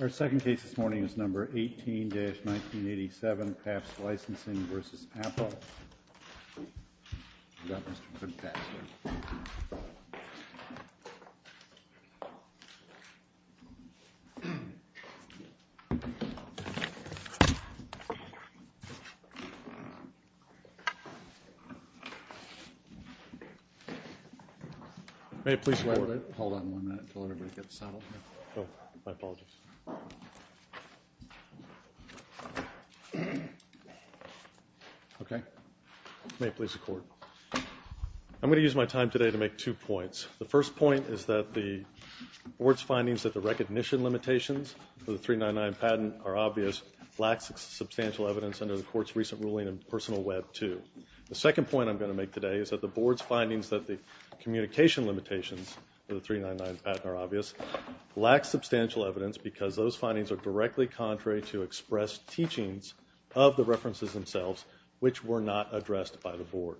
Our second case this morning is No. 18-1987, Pabst Licensing v. Apple. I have a motion to adjourn, a second to adjourn, a motion to adjourn, a second to adjourn, Okay, may it please the Court. I'm going to use my time today to make two points. The first point is that the Board's findings that the recognition limitations for the 399 patent are obvious, lack substantial evidence under the Court's recent ruling in personal Web II. The second point I'm going to make today is that the Board's findings that the communication limitations for the 399 patent are obvious, lack substantial evidence because those findings are directly contrary to expressed teachings of the references themselves, which were not addressed by the Board.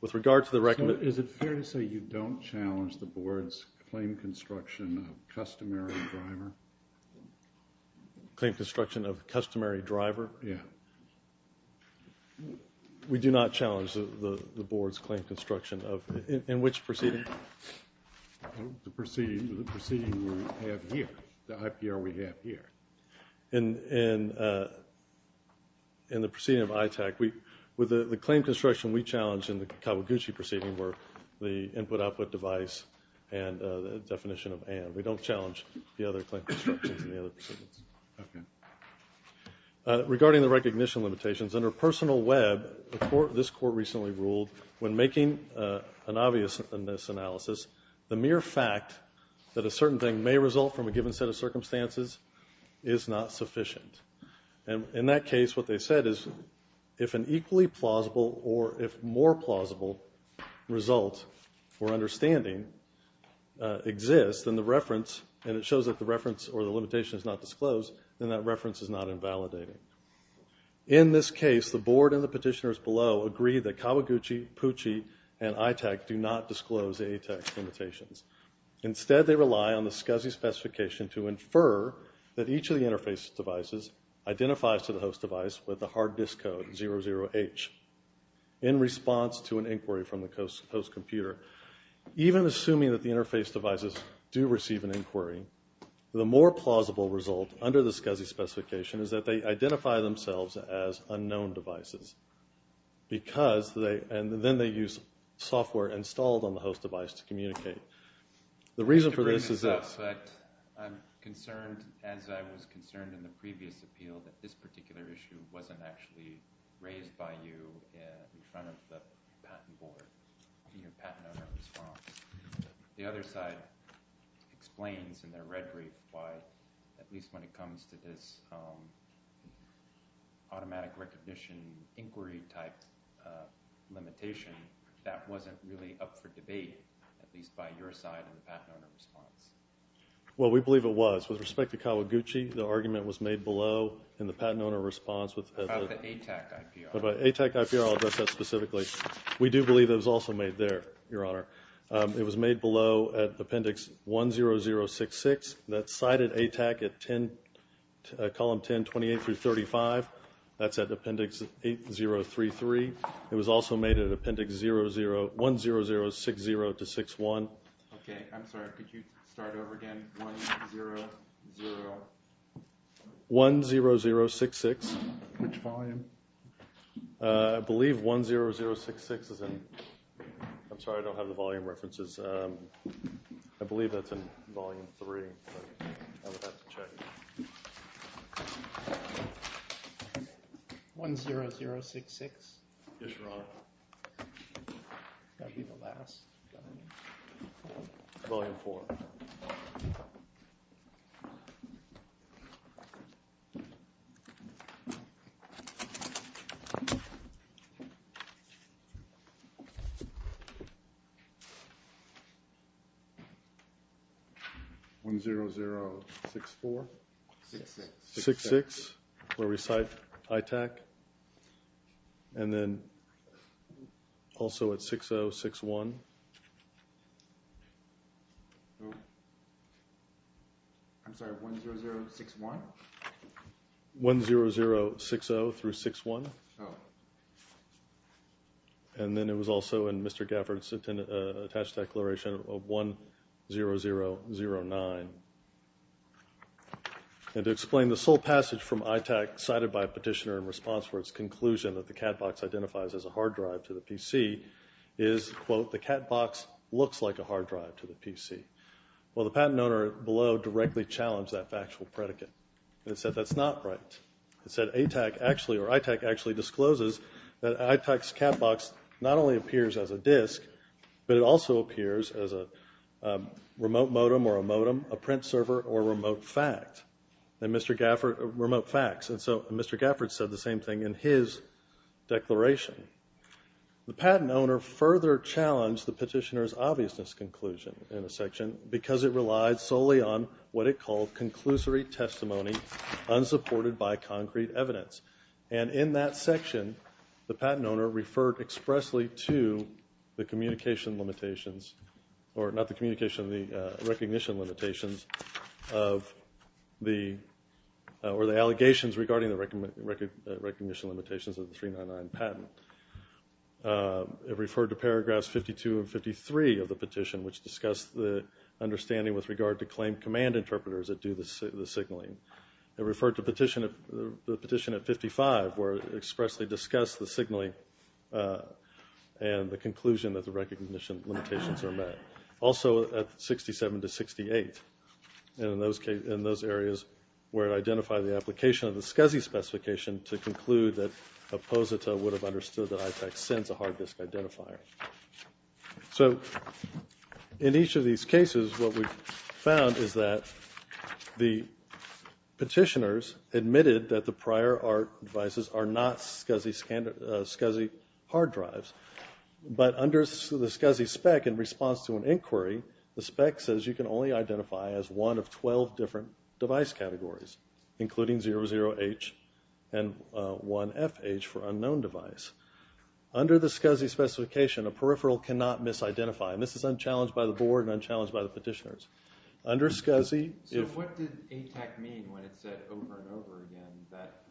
With regard to the recommendation... Is it fair to say you don't challenge the Board's claim construction of customary driver? Claim construction of customary driver? Yeah. We do not challenge the Board's claim construction of... in which proceeding? The proceeding we have here, the IPR we have here. In the proceeding of ITAC, with the claim construction we challenged in the Kawaguchi proceeding were the input-output device and the definition of and. We don't challenge the other claim constructions in the other proceedings. Okay. Regarding the recognition limitations under personal Web, this Court recently ruled when making an obviousness analysis, the mere fact that a certain thing may result from a given set of circumstances is not sufficient. In that case, what they said is if an equally plausible or if more plausible result for understanding exists, then the reference, and it shows that the reference or the limitation is not disclosed, then that reference is not invalidating. In this case, the Board and the petitioners below agree that Kawaguchi, Pucci, and ITAC do not disclose the ITAC limitations. Instead, they rely on the SCSI specification to infer that each of the interface devices identifies to the host device with the hard disk code 00H in response to an inquiry from the host computer. Even assuming that the interface devices do receive an inquiry, the more plausible result under the SCSI specification is that they identify themselves as unknown devices and then they use software installed on the host device to communicate. The reason for this is this. I'm concerned, as I was concerned in the previous appeal, that this particular issue wasn't actually raised by you in front of the patent board, in your patent owner response. The other side explains in their rhetoric why, at least when it comes to this automatic recognition inquiry type limitation, that wasn't really up for debate, at least by your side in the patent owner response. Well, we believe it was. With respect to Kawaguchi, the argument was made below in the patent owner response. About the ATAC IPR. About the ATAC IPR, I'll address that specifically. We do believe it was also made there, Your Honor. It was made below at appendix 10066. That's cited ATAC at column 10, 28 through 35. That's at appendix 8033. It was also made at appendix 10060 to 61. Okay, I'm sorry. Could you start over again? 100... 10066. Which volume? I believe 10066 is in... I'm sorry, I don't have the volume references. I believe that's in volume 3. I would have to check. 10066? Yes, Your Honor. That would be the last. Volume 4. Okay. 10064? 66. 66, where we cite ITAC. And then also at 6061. I'm sorry, 10061? 10060 through 61. Oh. And then it was also in Mr. Gafford's attached declaration of 10009. And to explain the sole passage from ITAC cited by a petitioner in response for its conclusion that the CAD box identifies as a hard drive to the PC is, quote, the CAD box looks like a hard drive to the PC. Well, the patent owner below directly challenged that factual predicate. It said that's not right. It said ITAC actually discloses that ITAC's CAD box not only appears as a disk, but it also appears as a remote modem or a modem, a print server, or a remote fact. And Mr. Gafford, remote facts. And so Mr. Gafford said the same thing in his declaration. The patent owner further challenged the petitioner's obviousness conclusion in the section because it relied solely on what it called conclusory testimony unsupported by concrete evidence. And in that section, the patent owner referred expressly to the communication limitations or not the communication, the recognition limitations of the allegations regarding the recognition limitations of the 399 patent. It referred to paragraphs 52 and 53 of the petition, which discussed the understanding with regard to claim command interpreters that do the signaling. It referred to the petition at 55 where it expressly discussed the signaling and the conclusion that the recognition limitations are met. Also at 67 to 68. And in those areas where it identified the application of the SCSI specification to conclude that a POSITA would have understood that ITAC sends a hard disk identifier. So in each of these cases, what we found is that the petitioners admitted that the prior devices are not SCSI hard drives. But under the SCSI spec, in response to an inquiry, the spec says you can only identify as one of 12 different device categories, including 00H and 1FH for unknown device. Under the SCSI specification, a peripheral cannot misidentify. And this is unchallenged by the board and unchallenged by the petitioners. So what did ITAC mean when it said over and over again that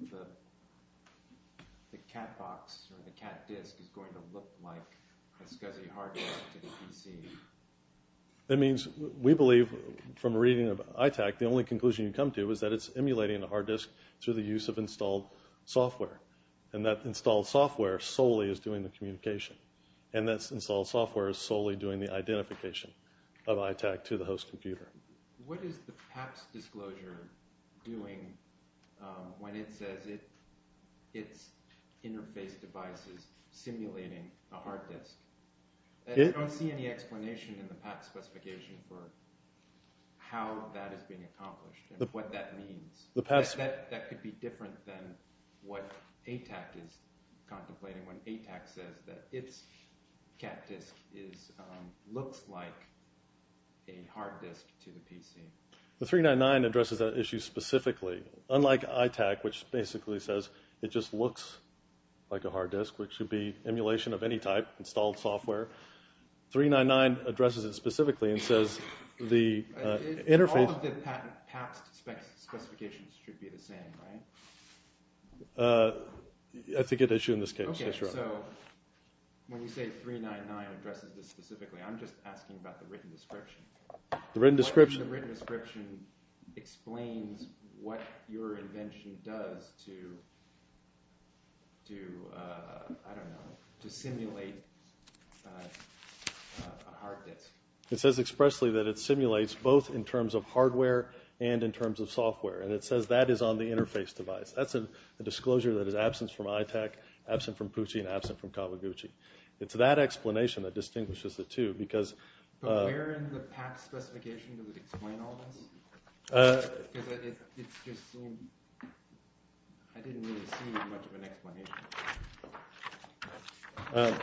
the cat box or the cat disk is going to look like a SCSI hard disk to the PC? That means we believe from reading of ITAC, the only conclusion you come to is that it's emulating a hard disk through the use of installed software. And that installed software solely is doing the communication. And that installed software is solely doing the identification of ITAC to the host computer. What is the PAPS disclosure doing when it says it's interface devices simulating a hard disk? I don't see any explanation in the PAPS specification for how that is being accomplished and what that means. That could be different than what ITAC is contemplating when ITAC says that its cat disk looks like a hard disk to the PC. The 399 addresses that issue specifically. Unlike ITAC, which basically says it just looks like a hard disk, which would be emulation of any type, installed software, 399 addresses it specifically and says the interface... All of the PAPS specifications should be the same, right? That's a good issue in this case. Okay, so when you say 399 addresses this specifically, I'm just asking about the written description. The written description? The written description explains what your invention does to, I don't know, to simulate a hard disk. It says expressly that it simulates both in terms of hardware and in terms of software. And it says that is on the interface device. That's a disclosure that is absent from ITAC, absent from Pucci, and absent from Kawaguchi. It's that explanation that distinguishes the two because... But where in the PAPS specification does it explain all this? Because it's just so... I didn't really see much of an explanation.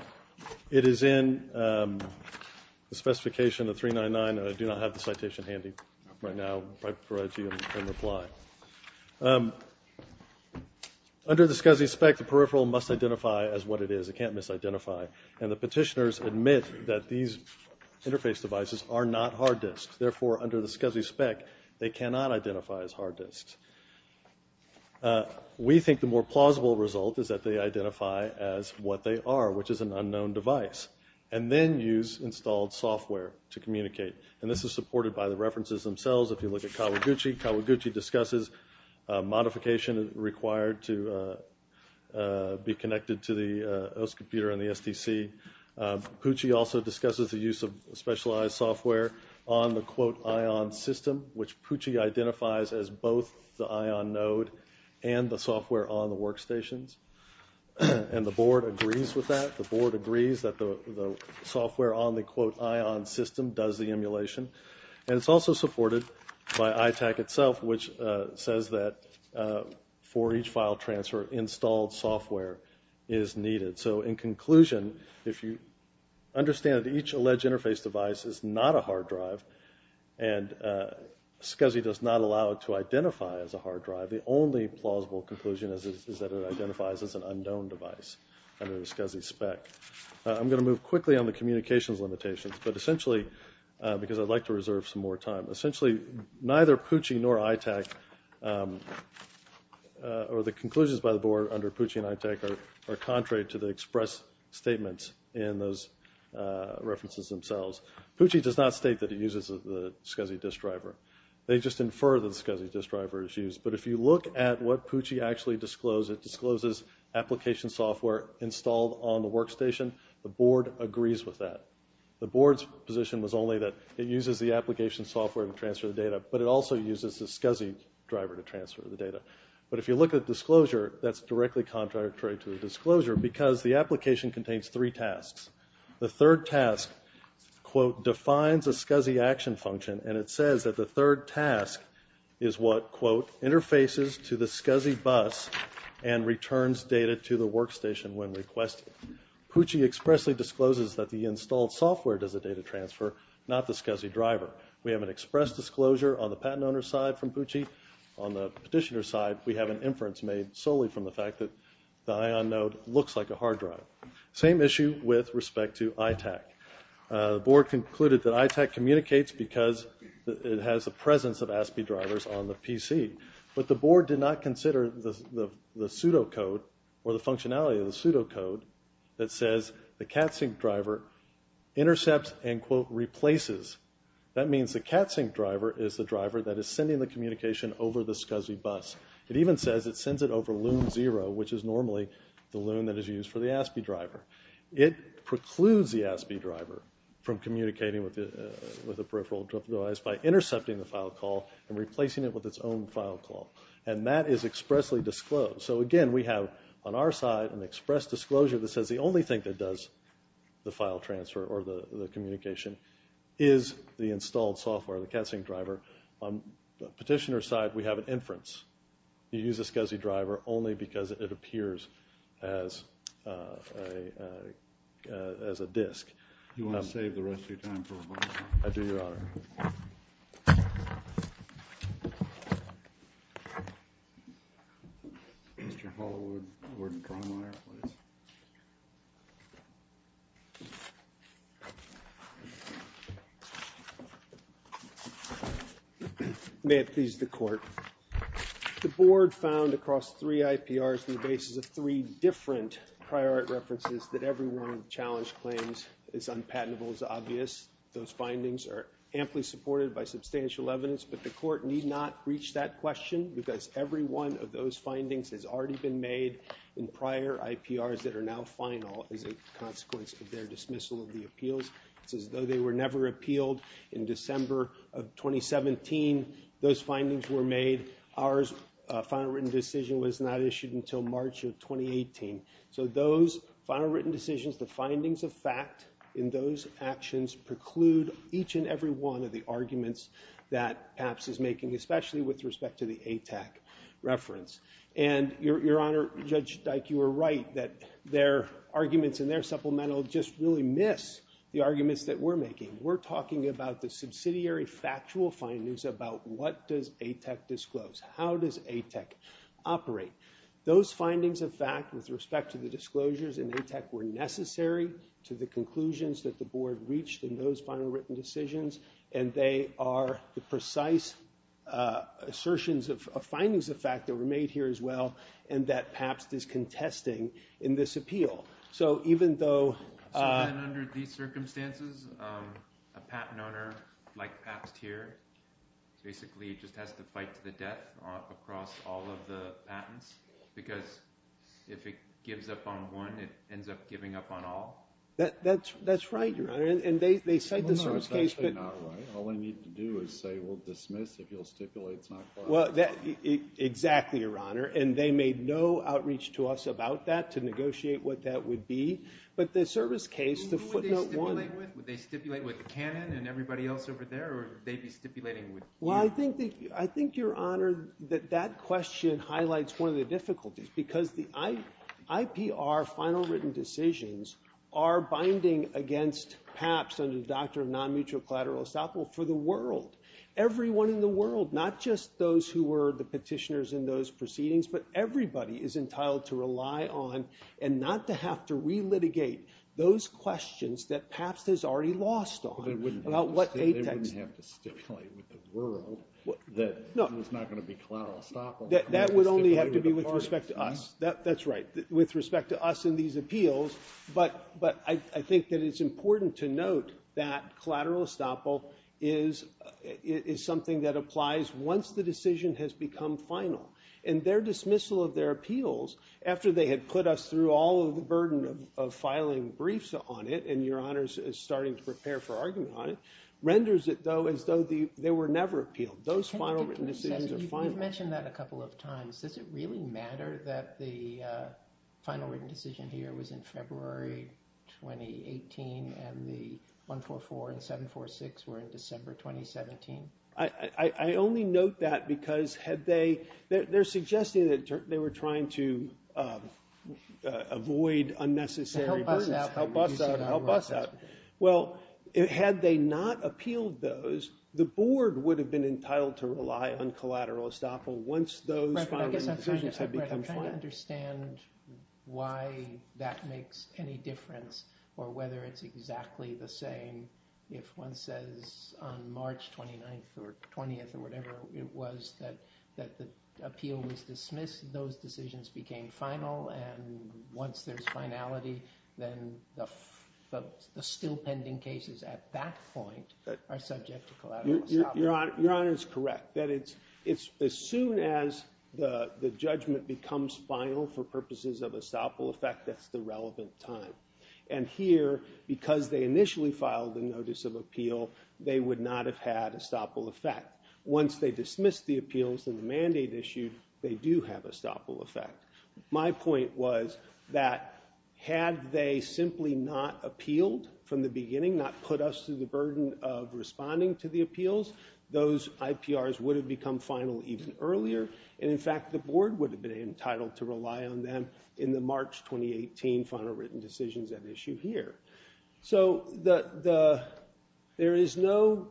It is in the specification of 399. I do not have the citation handy right now. I'll provide it to you in reply. Under the SCSI spec, the peripheral must identify as what it is. It can't misidentify. And the petitioners admit that these interface devices are not hard disks. Therefore, under the SCSI spec, they cannot identify as hard disks. We think the more plausible result is that they identify as what they are, which is an unknown device, and then use installed software to communicate. And this is supported by the references themselves. If you look at Kawaguchi, Kawaguchi discusses modification required to be connected to the OS computer and the STC. Pucci also discusses the use of specialized software on the, quote, ION system, which Pucci identifies as both the ION node and the software on the workstations. And the board agrees with that. The board agrees that the software on the, quote, ION system does the emulation. And it's also supported by ITAC itself, which says that for each file transfer, installed software is needed. So in conclusion, if you understand that each alleged interface device is not a hard drive, and SCSI does not allow it to identify as a hard drive, the only plausible conclusion is that it identifies as an unknown device under the SCSI spec. I'm going to move quickly on the communications limitations, but essentially, because I'd like to reserve some more time, essentially neither Pucci nor ITAC, or the conclusions by the board under Pucci and ITAC, are contrary to the express statements in those references themselves. Pucci does not state that it uses the SCSI disk driver. They just infer that the SCSI disk driver is used. But if you look at what Pucci actually disclosed, it discloses application software installed on the workstation. The board agrees with that. The board's position was only that it uses the application software to transfer the data, but it also uses the SCSI driver to transfer the data. But if you look at disclosure, that's directly contrary to the disclosure, because the application contains three tasks. The third task, quote, defines a SCSI action function, and it says that the third task is what, quote, interfaces to the SCSI bus and returns data to the workstation when requested. Pucci expressly discloses that the installed software does the data transfer, not the SCSI driver. We have an express disclosure on the patent owner's side from Pucci. On the petitioner's side, we have an inference made solely from the fact that the ION node looks like a hard drive. Same issue with respect to ITAC. The board concluded that ITAC communicates because it has the presence of ASPI drivers on the PC. But the board did not consider the pseudocode, or the functionality of the pseudocode, that says the CATSYNC driver intercepts and, quote, replaces. That means the CATSYNC driver is the driver that is sending the communication over the SCSI bus. It even says it sends it over loon zero, which is normally the loon that is used for the ASPI driver. It precludes the ASPI driver from communicating with the peripheral device by intercepting the file call and replacing it with its own file call. And that is expressly disclosed. So, again, we have on our side an express disclosure that says the only thing that does the file transfer or the communication is the installed software, the CATSYNC driver. On the petitioner's side, we have an inference. You use a SCSI driver only because it appears as a disk. You want to save the rest of your time for rebuttal? I do, Your Honor. Mr. Hollowood, Warden Cronwyer, please. May it please the Court. The Board found across three IPRs on the basis of three different prior art references that every one of the challenge claims is unpatentable as obvious. Those findings are amply supported by substantial evidence, but the Court need not reach that question because every one of those findings has already been made in prior IPRs that are now final as a consequence of their dismissal of the appeals. It's as though they were never appealed. In December of 2017, those findings were made. Our final written decision was not issued until March of 2018. So those final written decisions, the findings of fact in those actions, preclude each and every one of the arguments that PAPS is making, especially with respect to the ATEC reference. And, Your Honor, Judge Dyke, you are right that their arguments in their supplemental just really miss the arguments that we're making. We're talking about the subsidiary factual findings about what does ATEC disclose, how does ATEC operate. Those findings of fact with respect to the disclosures in ATEC were necessary to the conclusions that the Board reached in those final written decisions, and they are the precise assertions of findings of fact that were made here as well and that PAPS is contesting in this appeal. So even though... So then under these circumstances, a patent owner like PAPS here basically just has to fight to the death across all of the patents because if it gives up on one, it ends up giving up on all? That's right, Your Honor. Well, no, it's actually not right. All they need to do is say we'll dismiss if you'll stipulate it's not valid. Exactly, Your Honor, and they made no outreach to us about that to negotiate what that would be. But the service case, the footnote 1... Would they stipulate with the canon and everybody else over there or would they be stipulating with you? Well, I think, Your Honor, that that question highlights one of the difficulties because the IPR final written decisions are binding against PAPS under the doctrine of non-mutual collateral estoppel for the world. Everyone in the world, not just those who were the petitioners in those proceedings, but everybody is entitled to rely on and not to have to relitigate those questions that PAPS has already lost on. They wouldn't have to stipulate with the world that it was not going to be collateral estoppel. That would only have to be with respect to us. That's right, with respect to us in these appeals. But I think that it's important to note that collateral estoppel is something that applies once the decision has become final. And their dismissal of their appeals, after they had put us through all of the burden of filing briefs on it, and Your Honor is starting to prepare for argument on it, renders it though as though they were never appealed. Those final written decisions are final. You've mentioned that a couple of times. Does it really matter that the final written decision here was in February 2018 and the 144 and 746 were in December 2017? I only note that because they're suggesting that they were trying to avoid unnecessary burdens. Help us out. Help us out. Well, had they not appealed those, the board would have been entitled to rely on collateral estoppel once those final written decisions had become final. I'm trying to understand why that makes any difference or whether it's exactly the same. If one says on March 29th or 20th or whatever it was that the appeal was dismissed, those decisions became final, and once there's finality, then the still pending cases at that point are subject to collateral estoppel. Your Honor is correct. As soon as the judgment becomes final for purposes of estoppel effect, that's the relevant time. And here, because they initially filed the notice of appeal, they would not have had estoppel effect. Once they dismissed the appeals and the mandate issued, they do have estoppel effect. My point was that had they simply not appealed from the beginning, not put us through the burden of responding to the appeals, those IPRs would have become final even earlier, and in fact the board would have been entitled to rely on them in the March 2018 final written decisions at issue here. So there is no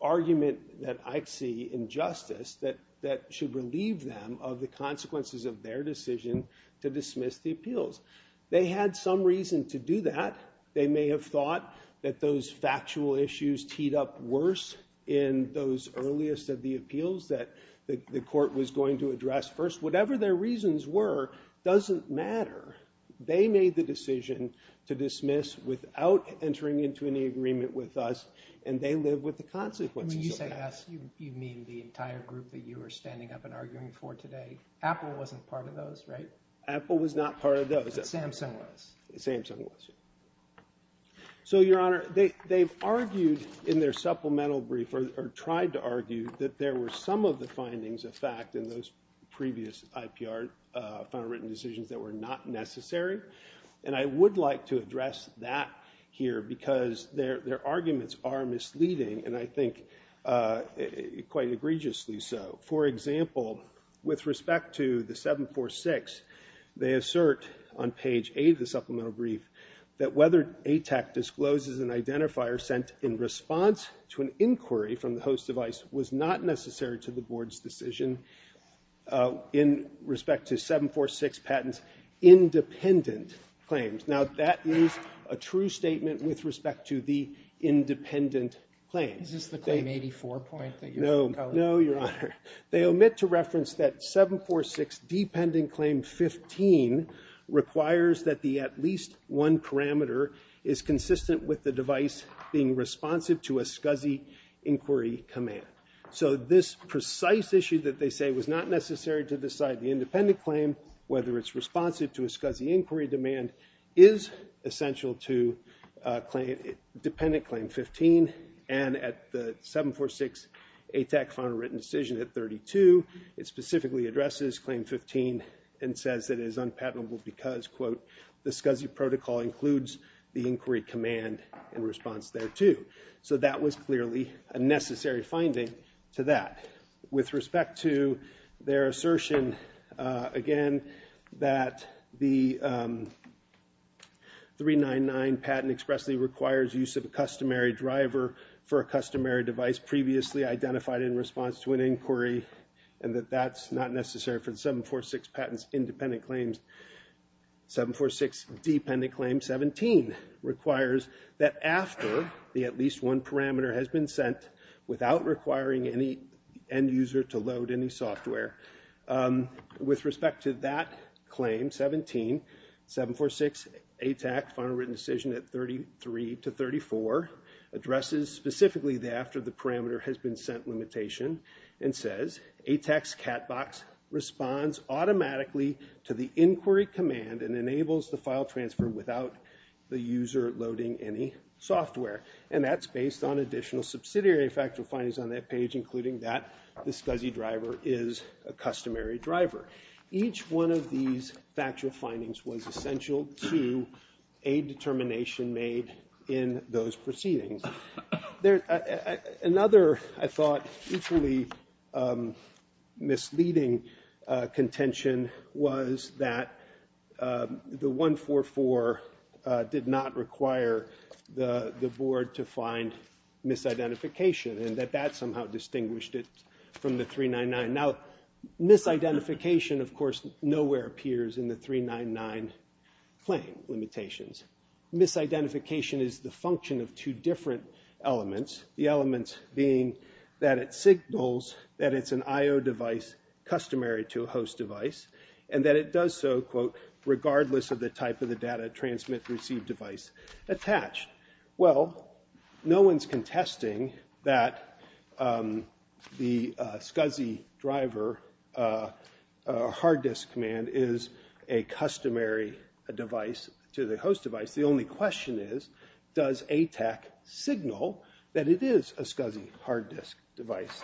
argument that I see in justice that should relieve them of the consequences of their decision to dismiss the appeals. They had some reason to do that. They may have thought that those factual issues teed up worse in those earliest of the appeals that the court was going to address first. Whatever their reasons were doesn't matter. They made the decision to dismiss without entering into any agreement with us, and they live with the consequences of that. When you say yes, you mean the entire group that you were standing up and arguing for today. Apple wasn't part of those, right? Apple was not part of those. Samsung was. Samsung was. So, Your Honor, they've argued in their supplemental brief or tried to argue that there were some of the findings of fact in those previous IPR final written decisions that were not necessary, and I would like to address that here because their arguments are misleading, and I think quite egregiously so. For example, with respect to the 746, they assert on page A of the supplemental brief that whether ATAC discloses an identifier sent in response to an inquiry from the host device was not necessary to the board's decision in respect to 746 Patent's independent claims. Now, that is a true statement with respect to the independent claims. Is this the Claim 84 point that you've encoded? No, Your Honor. They omit to reference that 746 Dependent Claim 15 requires that the at least one parameter is consistent with the device being responsive to a SCSI inquiry command. So this precise issue that they say was not necessary to decide the independent claim, whether it's responsive to a SCSI inquiry demand, is essential to Dependent Claim 15, and at the 746 ATAC final written decision at 32, it specifically addresses Claim 15 and says that it is unpatentable because, quote, the SCSI protocol includes the inquiry command in response thereto. So that was clearly a necessary finding to that. With respect to their assertion, again, that the 399 Patent expressly requires use of a customary driver for a customary device previously identified in response to an inquiry and that that's not necessary for the 746 Patent's independent claims, 746 Dependent Claim 17 requires that after the at least one parameter has been sent without requiring any end user to load any software. With respect to that claim, 17, 746 ATAC final written decision at 33 to 34 addresses specifically after the parameter has been sent limitation and says ATAC's CAT box responds automatically to the inquiry command and enables the file transfer without the user loading any software, and that's based on additional subsidiary factual findings on that page, including that the SCSI driver is a customary driver. Each one of these factual findings was essential to a determination made in those proceedings. Another, I thought, equally misleading contention was that the 144 did not require the board to find misidentification and that that somehow distinguished it from the 399. Now, misidentification, of course, nowhere appears in the 399 claim limitations. Misidentification is the function of two different elements, the elements being that it signals that it's an I-O device customary to a host device and that it does so, quote, regardless of the type of the data transmit-receive device attached. Well, no one's contesting that the SCSI driver hard disk command is a customary device to the host device. The only question is, does ATAC signal that it is a SCSI hard disk device?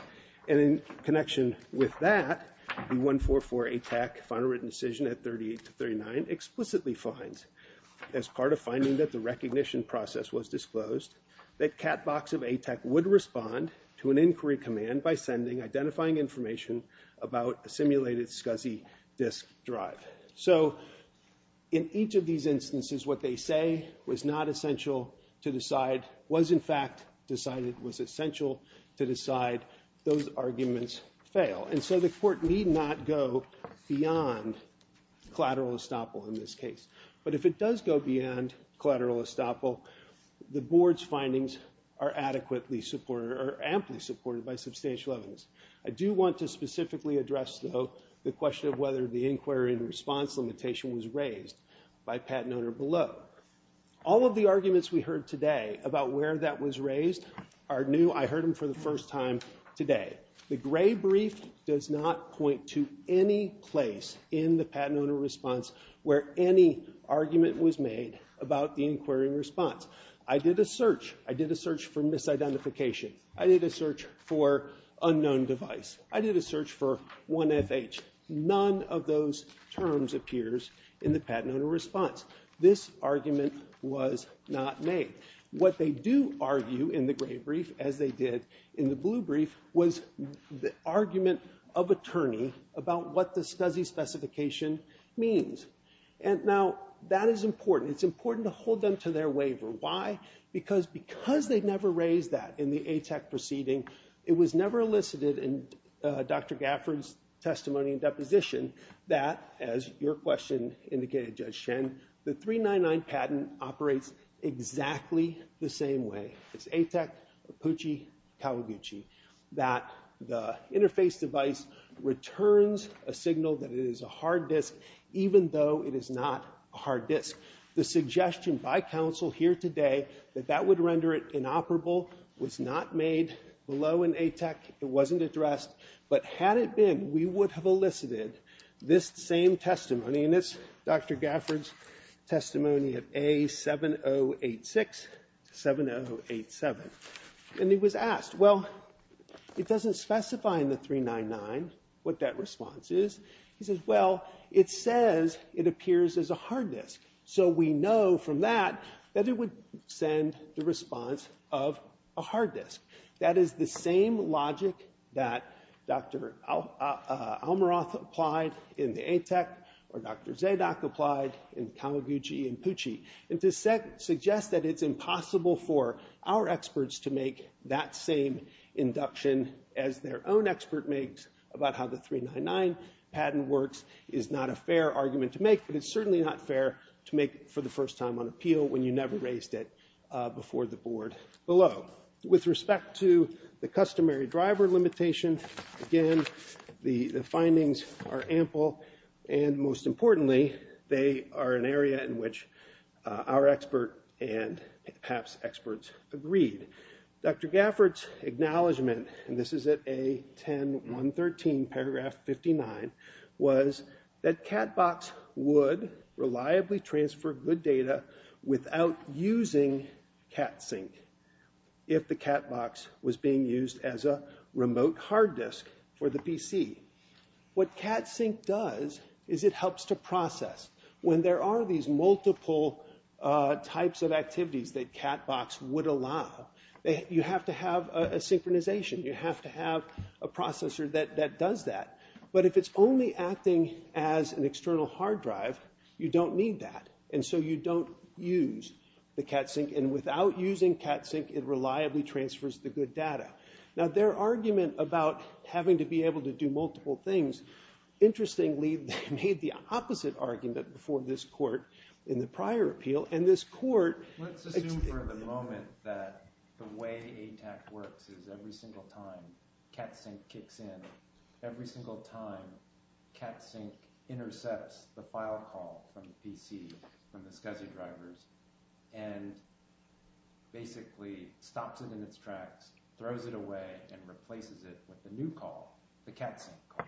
And in connection with that, the 144 ATAC final written decision at 38-39 explicitly finds, as part of finding that the recognition process was disclosed, that Cat Box of ATAC would respond to an inquiry command by sending identifying information about a simulated SCSI disk drive. So in each of these instances, what they say was not essential to decide, was, in fact, decided was essential to decide those arguments fail. And so the court need not go beyond collateral estoppel in this case. But if it does go beyond collateral estoppel, the board's findings are adequately supported or amply supported by substantial evidence. I do want to specifically address, though, the question of whether the inquiry and response limitation was raised by Pat and Oner below. All of the arguments we heard today about where that was raised are new. I heard them for the first time today. The gray brief does not point to any place in the Pat and Oner response where any argument was made about the inquiry and response. I did a search. I did a search for misidentification. I did a search for unknown device. I did a search for 1FH. None of those terms appears in the Pat and Oner response. This argument was not made. What they do argue in the gray brief, as they did in the blue brief, was the argument of attorney about what the SCSI specification means. And now, that is important. It's important to hold them to their waiver. Why? Because they never raised that in the ATAC proceeding. It was never elicited in Dr. Gafford's testimony and deposition that, as your question indicated, Judge Shen, the 399 patent operates exactly the same way. It's ATAC, Apucci, Kawaguchi, that the interface device returns a signal that it is a hard disk, even though it is not a hard disk. The suggestion by counsel here today that that would render it inoperable was not made below an ATAC. It wasn't addressed. But had it been, we would have elicited this same testimony, and it's Dr. Gafford's testimony of A7086, 7087. And he was asked, well, it doesn't specify in the 399 what that response is. He says, well, it says it appears as a hard disk. So we know from that that it would send the response of a hard disk. That is the same logic that Dr. Almaroth applied in the ATAC or Dr. Zadok applied in Kawaguchi and Apucci. And to suggest that it's impossible for our experts to make that same induction as their own expert makes about how the 399 patent works is not a fair argument to make, but it's certainly not fair to make for the first time on appeal when you never raised it before the board below. So with respect to the customary driver limitation, again, the findings are ample. And most importantly, they are an area in which our expert and perhaps experts agreed. Dr. Gafford's acknowledgment, and this is at A10113, paragraph 59, was that CatBox would reliably transfer good data without using CatSync if the CatBox was being used as a remote hard disk for the PC. What CatSync does is it helps to process. When there are these multiple types of activities that CatBox would allow, you have to have a synchronization. You have to have a processor that does that. But if it's only acting as an external hard drive, you don't need that. And so you don't use the CatSync. And without using CatSync, it reliably transfers the good data. Now, their argument about having to be able to do multiple things, interestingly, they made the opposite argument before this court in the prior appeal, and this court... Let's assume for the moment that the way ATAC works is every single time CatSync kicks in, every single time CatSync intercepts the file call from the PC, from the SCSI drivers, and basically stops it in its tracks, throws it away, and replaces it with a new call, the CatSync call.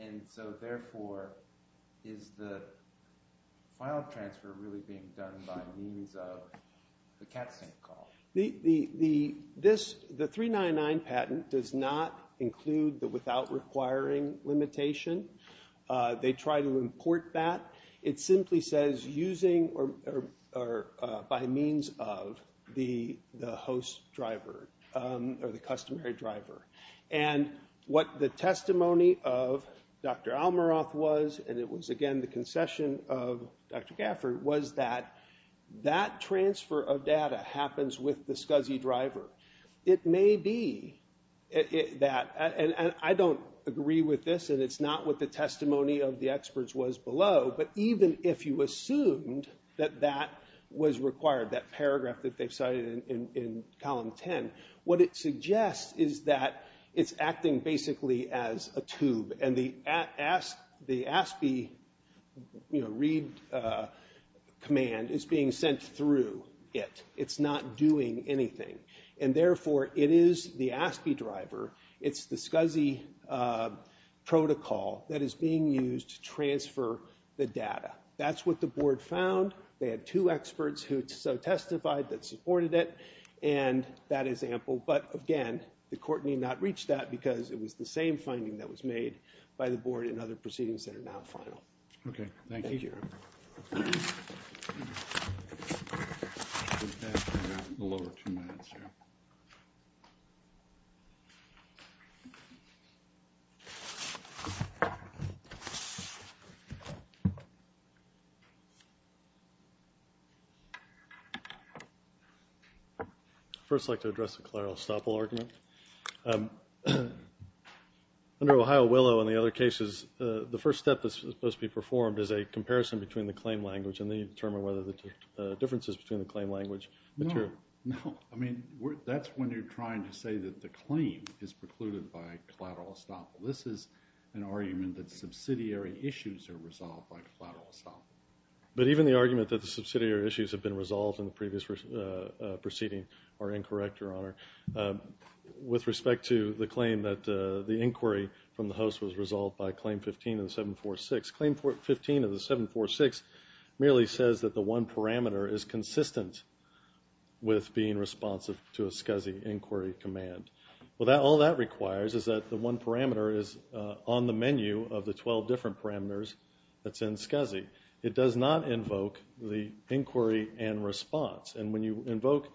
And so therefore, is the file transfer really being done by means of the CatSync call? The 399 patent does not include the without requiring limitation. They try to import that. It simply says using or by means of the host driver or the customary driver. And what the testimony of Dr. Almiroth was, and it was again the concession of Dr. Gafford, was that that transfer of data happens with the SCSI driver. It may be that, and I don't agree with this, and it's not what the testimony of the experts was below, but even if you assumed that that was required, that paragraph that they've cited in column 10, what it suggests is that it's acting basically as a tube, and the ASCII read command is being sent through it. It's not doing anything. And therefore, it is the ASCII driver, it's the SCSI protocol that is being used to transfer the data. That's what the board found. They had two experts who so testified that supported it, and that is ample. But again, the court need not reach that, because it was the same finding that was made by the board and other proceedings that are now final. Thank you. Thank you. I'd first like to address the collateral estoppel argument. Under Ohio Willow and the other cases, the first step that's supposed to be performed is a comparison between the claim language, and then you determine whether the differences between the claim language are true. No. I mean, that's when you're trying to say that the claim is precluded by collateral estoppel. This is an argument that subsidiary issues are resolved by collateral estoppel. But even the argument that the subsidiary issues have been resolved in the previous proceeding are incorrect, Your Honor. With respect to the claim that the inquiry from the host was resolved by Claim 15 of the 746, Claim 15 of the 746 merely says that the one parameter is consistent with being responsive to a SCSI inquiry command. All that requires is that the one parameter is on the menu of the 12 different parameters that's in SCSI. It does not invoke the inquiry and response. And when you invoke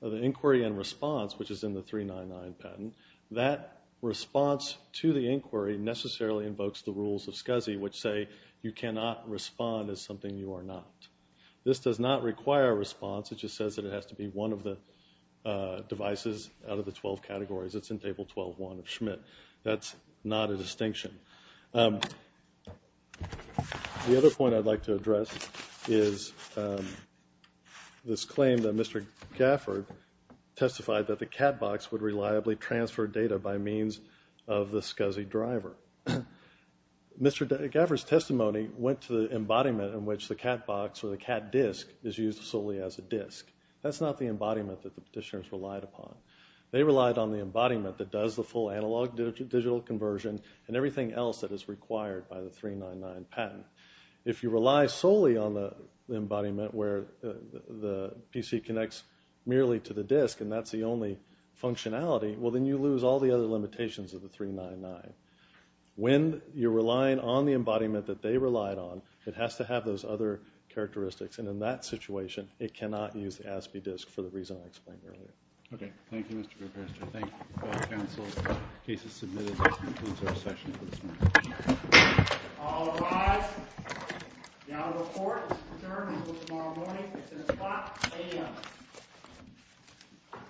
the inquiry and response, which is in the 399 patent, that response to the inquiry necessarily invokes the rules of SCSI, which say you cannot respond as something you are not. This does not require a response. It just says that it has to be one of the devices out of the 12 categories. It's in Table 12-1 of Schmidt. That's not a distinction. The other point I'd like to address is this claim that Mr. Gafford testified that the CAT box would reliably transfer data by means of the SCSI driver. Mr. Gafford's testimony went to the embodiment in which the CAT box or the CAT disk is used solely as a disk. That's not the embodiment that the petitioners relied upon. They relied on the embodiment that does the full analog-digital conversion and everything else that is required by the 399 patent. If you rely solely on the embodiment where the PC connects merely to the disk and that's the only functionality, well, then you lose all the other limitations of the 399. When you're relying on the embodiment that they relied on, it has to have those other characteristics, and in that situation it cannot use the ASPE disk for the reason I explained earlier. Okay. Thank you, Mr. Professor. Thank you. Council, the case is submitted. That concludes our session for this morning. All rise. The audit report is adjourned until tomorrow morning at 6 o'clock a.m.